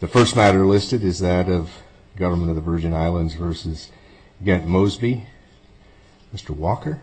The first matter listed is that of government of the Virgin Islands versus Gantt Mosby. Mr. Walker.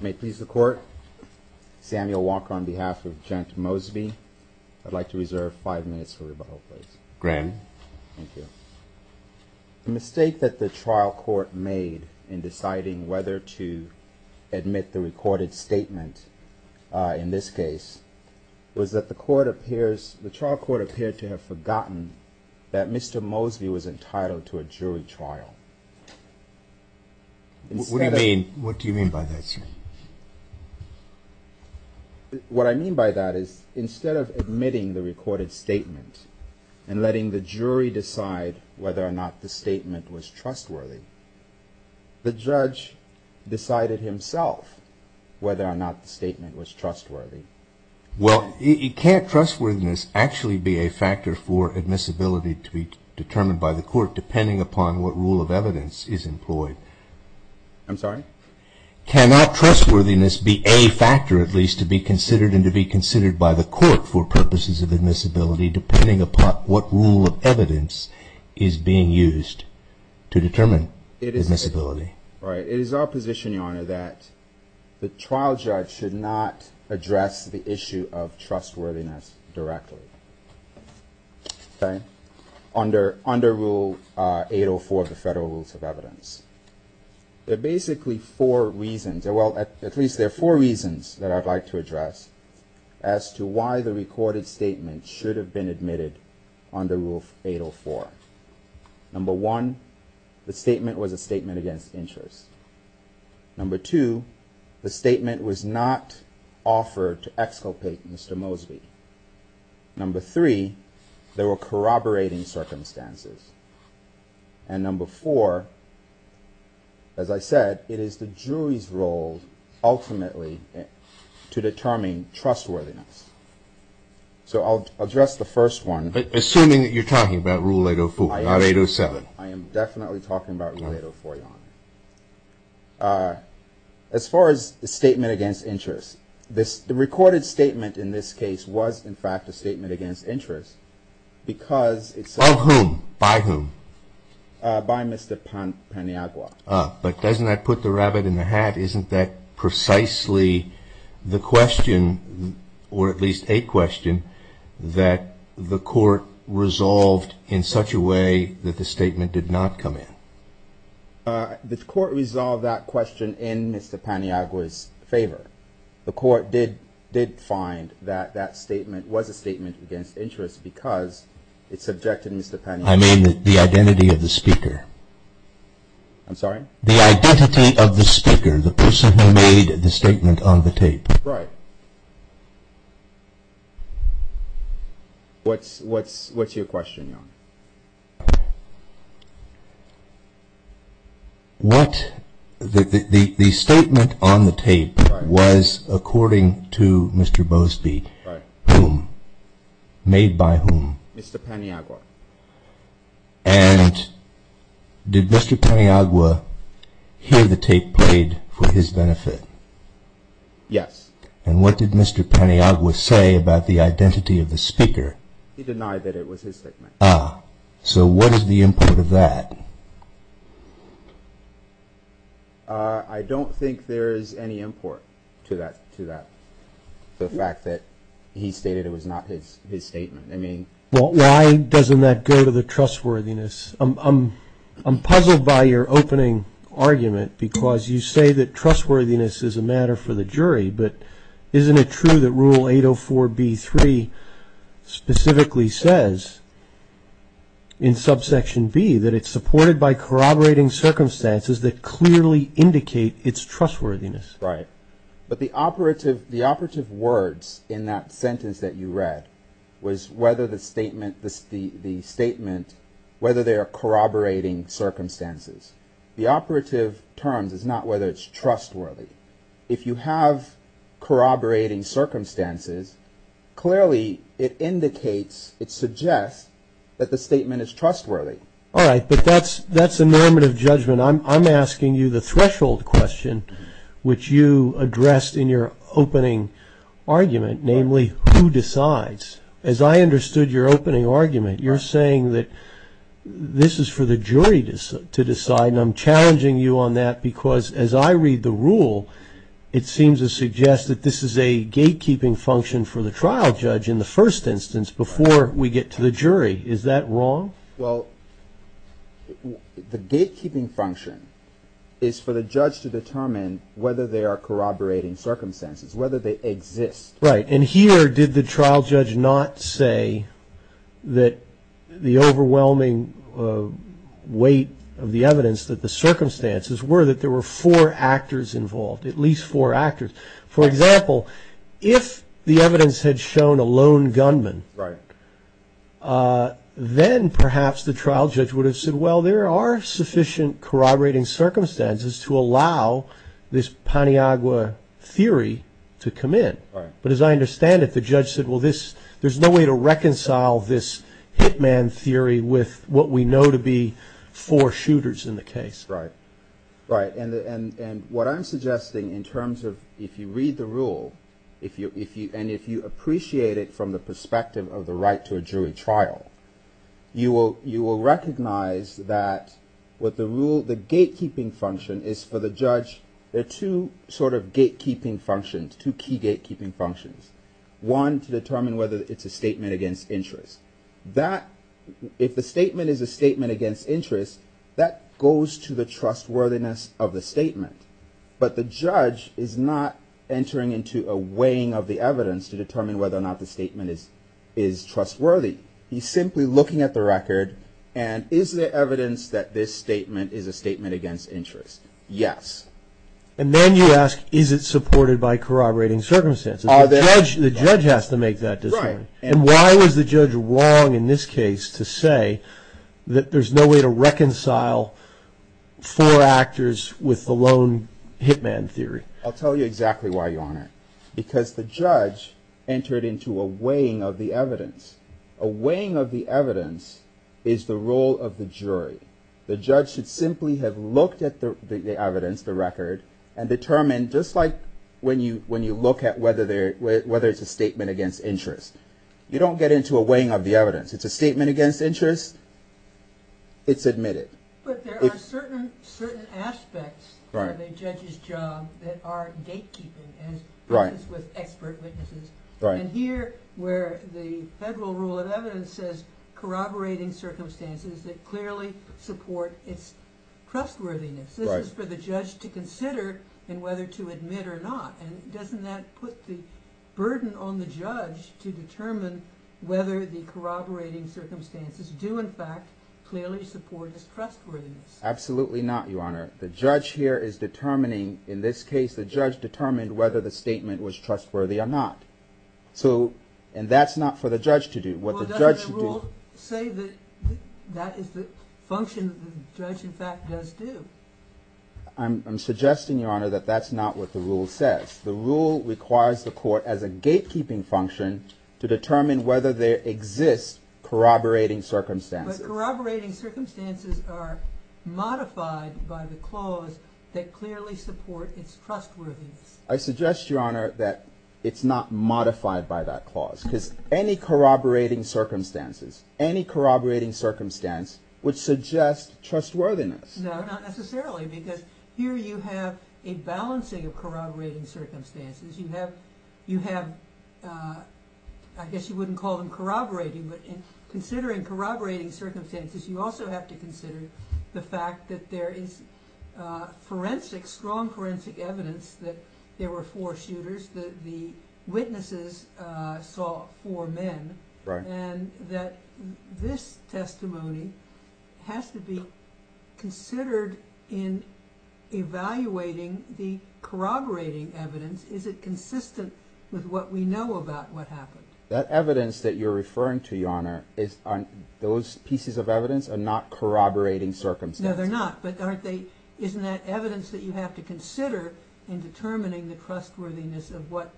May it please the court. Samuel Walker on behalf of Gantt Mosby. I'd like to reserve five minutes for rebuttal please. Grant. Thank you. The mistake that the trial court made in deciding whether to admit the recorded statement in this case was that the court appears the trial court appeared to have forgotten that Mr. Mosby was entitled to a jury trial. What do you mean by that sir? What I mean by that is instead of admitting the recorded statement and letting the jury decide whether or not the statement was trustworthy the judge decided himself whether or not the statement was trustworthy. Well it can't trustworthiness actually be a factor for admissibility to be determined by the court depending upon what rule of evidence is employed. I'm sorry. Cannot trustworthiness be a factor at least to be considered and to be considered by the court for purposes of admissibility depending upon what rule of evidence is being used to determine admissibility. It is our position your honor that the trial judge should not address the issue of trustworthiness directly. Under rule 804 of the federal rules of evidence. There are basically four reasons, well at least four, that I would like to address as to why the recorded statement should have been admitted under rule 804. Number one, the statement was a statement against interest. Number two, the statement was not offered to exculpate Mr. Mosby. Number three, there were corroborating circumstances. And number four, as I said it is the jury's role ultimately to determine trustworthiness. So I'll address the first one. Assuming that you're talking about rule 804, not 807. I am definitely talking about rule 804 your honor. As far as the statement against interest, the recorded statement in this case was in fact a statement against interest because. Of whom? By whom? By Mr. Paniagua. But doesn't that put the rabbit in the hat? Isn't that precisely the question, or at least a question, that the court resolved in such a way that the statement did not come in? The court resolved that question in Mr. Paniagua's favor. The court did find that that statement was a statement against interest because it subjected Mr. Paniagua. I mean the identity of the speaker. I'm sorry? The speaker. The person who made the statement on the tape. Right. What's your question? What the statement on the tape was according to Mr. Mosby. Right. Whom? Made by whom? Mr. Paniagua. He had the tape played for his benefit. Yes. And what did Mr. Paniagua say about the identity of the speaker? He denied that it was his statement. Ah. So what is the import of that? I don't think there is any import to that. The fact that he stated it was not his statement. Well why doesn't that go to the trustworthiness? I'm puzzled by your opening argument because you say that trustworthiness is a matter for the jury, but isn't it true that rule 804b3 specifically says in subsection b that it's supported by corroborating circumstances that clearly indicate its trustworthiness? Right. But the operative words in that sentence that you read was whether the statement, whether they are corroborating circumstances. The operative terms is not whether it's trustworthy. If you have corroborating circumstances, clearly it indicates, it suggests that the statement is trustworthy. Alright, but that's a normative judgment. I'm asking you the threshold question which you addressed in your opening argument, namely who decides. As I understood your opening argument, you're saying that this is for the jury to decide and I'm challenging you on that because as I read the rule, it seems to suggest that this is a gatekeeping function for the trial judge in the first instance before we get to the jury. Is that wrong? Well, the gatekeeping function is for the jury. And here did the trial judge not say that the overwhelming weight of the evidence that the circumstances were that there were four actors involved, at least four actors. For example, if the evidence had shown a lone gunman, then perhaps the trial judge would have said, well, there are sufficient corroborating circumstances to allow this Paniagua theory to come in. But as I understand it, the judge said, well, there's no way to reconcile this hitman theory with what we know to be four shooters in the case. Right. And what I'm suggesting in terms of if you read the rule and if you appreciate it from the perspective of the right to a jury trial, you will recognize that what the rule, the gatekeeping function is for the judge. There are two sort of gatekeeping functions, two key gatekeeping functions. One to determine whether it's a statement against interest. That if the statement is a statement against interest, that goes to the trustworthiness of the statement. But the judge is not entering into a weighing of the evidence to determine whether or not the statement is trustworthy. He's simply looking at the record. And is there evidence that this statement is a statement against interest? Yes. And then you ask, is it supported by corroborating circumstances? The judge has to make that decision. And why was the judge wrong in this case to say that there's no way to reconcile four actors with the lone hitman theory? I'll tell you exactly why, Your Honor. Because the judge entered into a weighing of the evidence. A weighing of the evidence is the role of the jury. The judge should simply have looked at the evidence, the record, and determined, just like when you look at whether it's a statement against interest. You don't get into a weighing of the evidence. It's a statement against interest. It's admitted. But there are certain aspects of the judge's job that are gatekeeping, as with expert witnesses. And here, where the federal rule of evidence says corroborating circumstances that clearly support its trustworthiness, this is for the judge to consider in whether to admit or not. And doesn't that put the burden on the judge to determine whether the corroborating circumstances do, in fact, clearly support his trustworthiness? Absolutely not, Your Honor. The judge here is trying to determine whether the judge is trustworthy or not. So, and that's not for the judge to do. What the judge should do... Well, doesn't the rule say that that is the function that the judge, in fact, does do? I'm suggesting, Your Honor, that that's not what the rule says. The rule requires the court, as a gatekeeping function, to determine whether there exists corroborating circumstances. But corroborating circumstances are modified by the clause that clearly support its trustworthiness. I suggest, Your Honor, that it's not modified by that clause, because any corroborating circumstances, any corroborating circumstance would suggest trustworthiness. No, not necessarily, because here you have a balancing of corroborating circumstances. You have, I guess you wouldn't call them corroborating, but in considering corroborating circumstances you also have to consider the fact that there is forensic, strong forensic evidence that there were four shooters, that the witnesses saw four men, and that this testimony has to be considered in evaluating the corroborating evidence. Is it consistent with what we know about what happened? That evidence that you're referring to, Your Honor, those pieces of evidence are not corroborating circumstances. No, they're not, but aren't they, isn't that evidence that you have to consider in determining the trustworthiness of what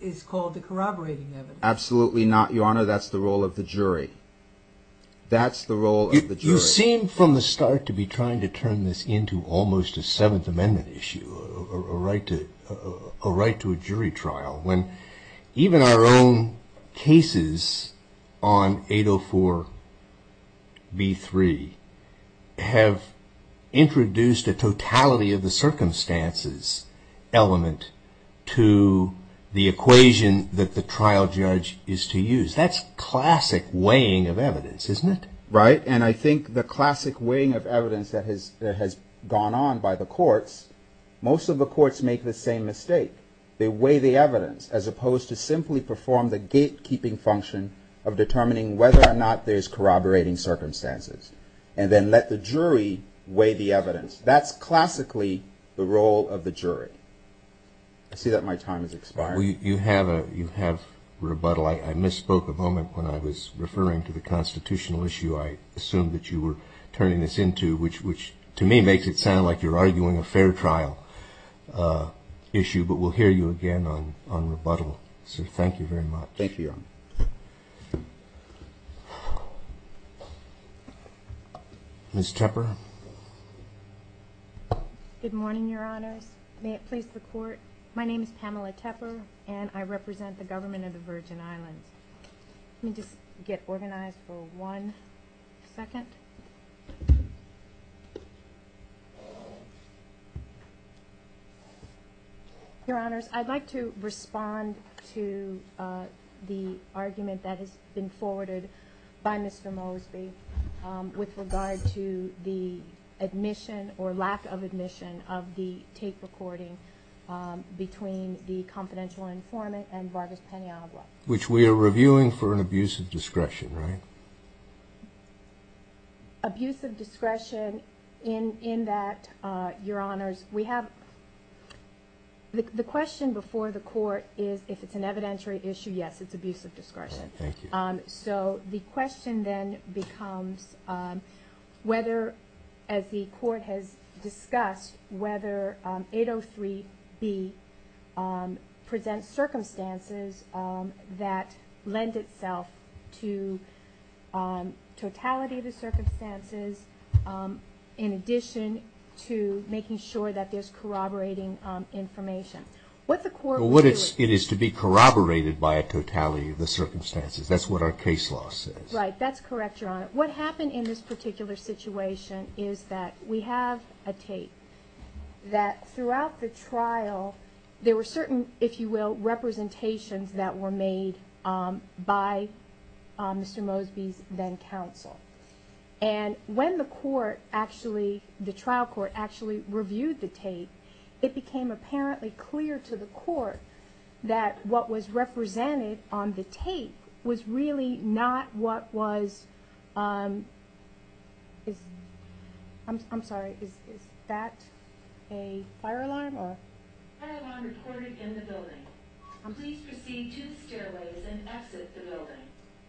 is called the corroborating evidence? Absolutely not, Your Honor, that's the role of the jury. That's the role of the jury. You seem from the start to be trying to turn this into almost a Seventh Amendment issue, a right to a jury trial, when even our own cases on 804b3 have introduced a totality of the circumstances element to the equation that the trial judge is to use. That's classic weighing of evidence, isn't it? Right, and I think the classic weighing of evidence that has gone on by the courts, most of the courts make the same mistake. They weigh the evidence as opposed to simply perform the gatekeeping function of determining whether or not there's corroborating circumstances, and then let the jury weigh the evidence. That's classically the role of the jury. I see that my time has expired. You have rebuttal. I misspoke a moment when I was referring to the constitutional issue I assumed that you were turning this into, which to me makes it sound like you're arguing a fair trial issue, but we'll hear you again on rebuttal, so thank you very much. Thank you, Your Honor. Ms. Tepper? Good morning, Your Honors. May it please the Court, my name is Pamela Tepper, and I represent the Government of the Virgin Islands. Let me just get organized for one second. Your Honors, I'd like to respond to the argument that has been forwarded by Mr. Mosby with regard to the admission or lack of admission of the tape recording between the confidential informant and Vargas Pena Agua. Which we are reviewing for an abuse of discretion, right? Abuse of discretion in that, Your Honors, we have the question before the Court is if it's an evidentiary issue, yes, it's abuse of discretion. So the question then becomes whether, as the Court has discussed, whether 803B presents circumstances that lend itself to totality of the circumstances in addition to making sure that there's corroborating information. What the Court would do is... It is to be corroborated by a totality of the circumstances, that's what our case law says. Right, that's correct, Your Honor. What happened in this particular situation is that we have a tape that throughout the trial there were certain, if you will, representations that were made by Mr. Mosby's then counsel. And when the court actually, the trial court actually reviewed the tape, it became apparently clear to the court that what was represented on the tape was really not what was... I'm sorry, is that a fire alarm or... Fire alarm reported in the building. Please proceed to the stairways and exit the building.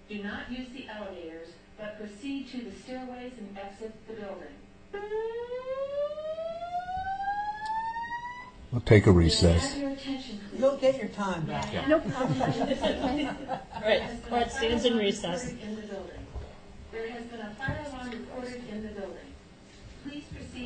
Do not use the elevators, but proceed to the stairways and exit the building. I'll take a recess. You'll get your time back. No problem. Court stands in recess. Fire alarm reported in the building. There has been a fire alarm reported in the building. Please proceed...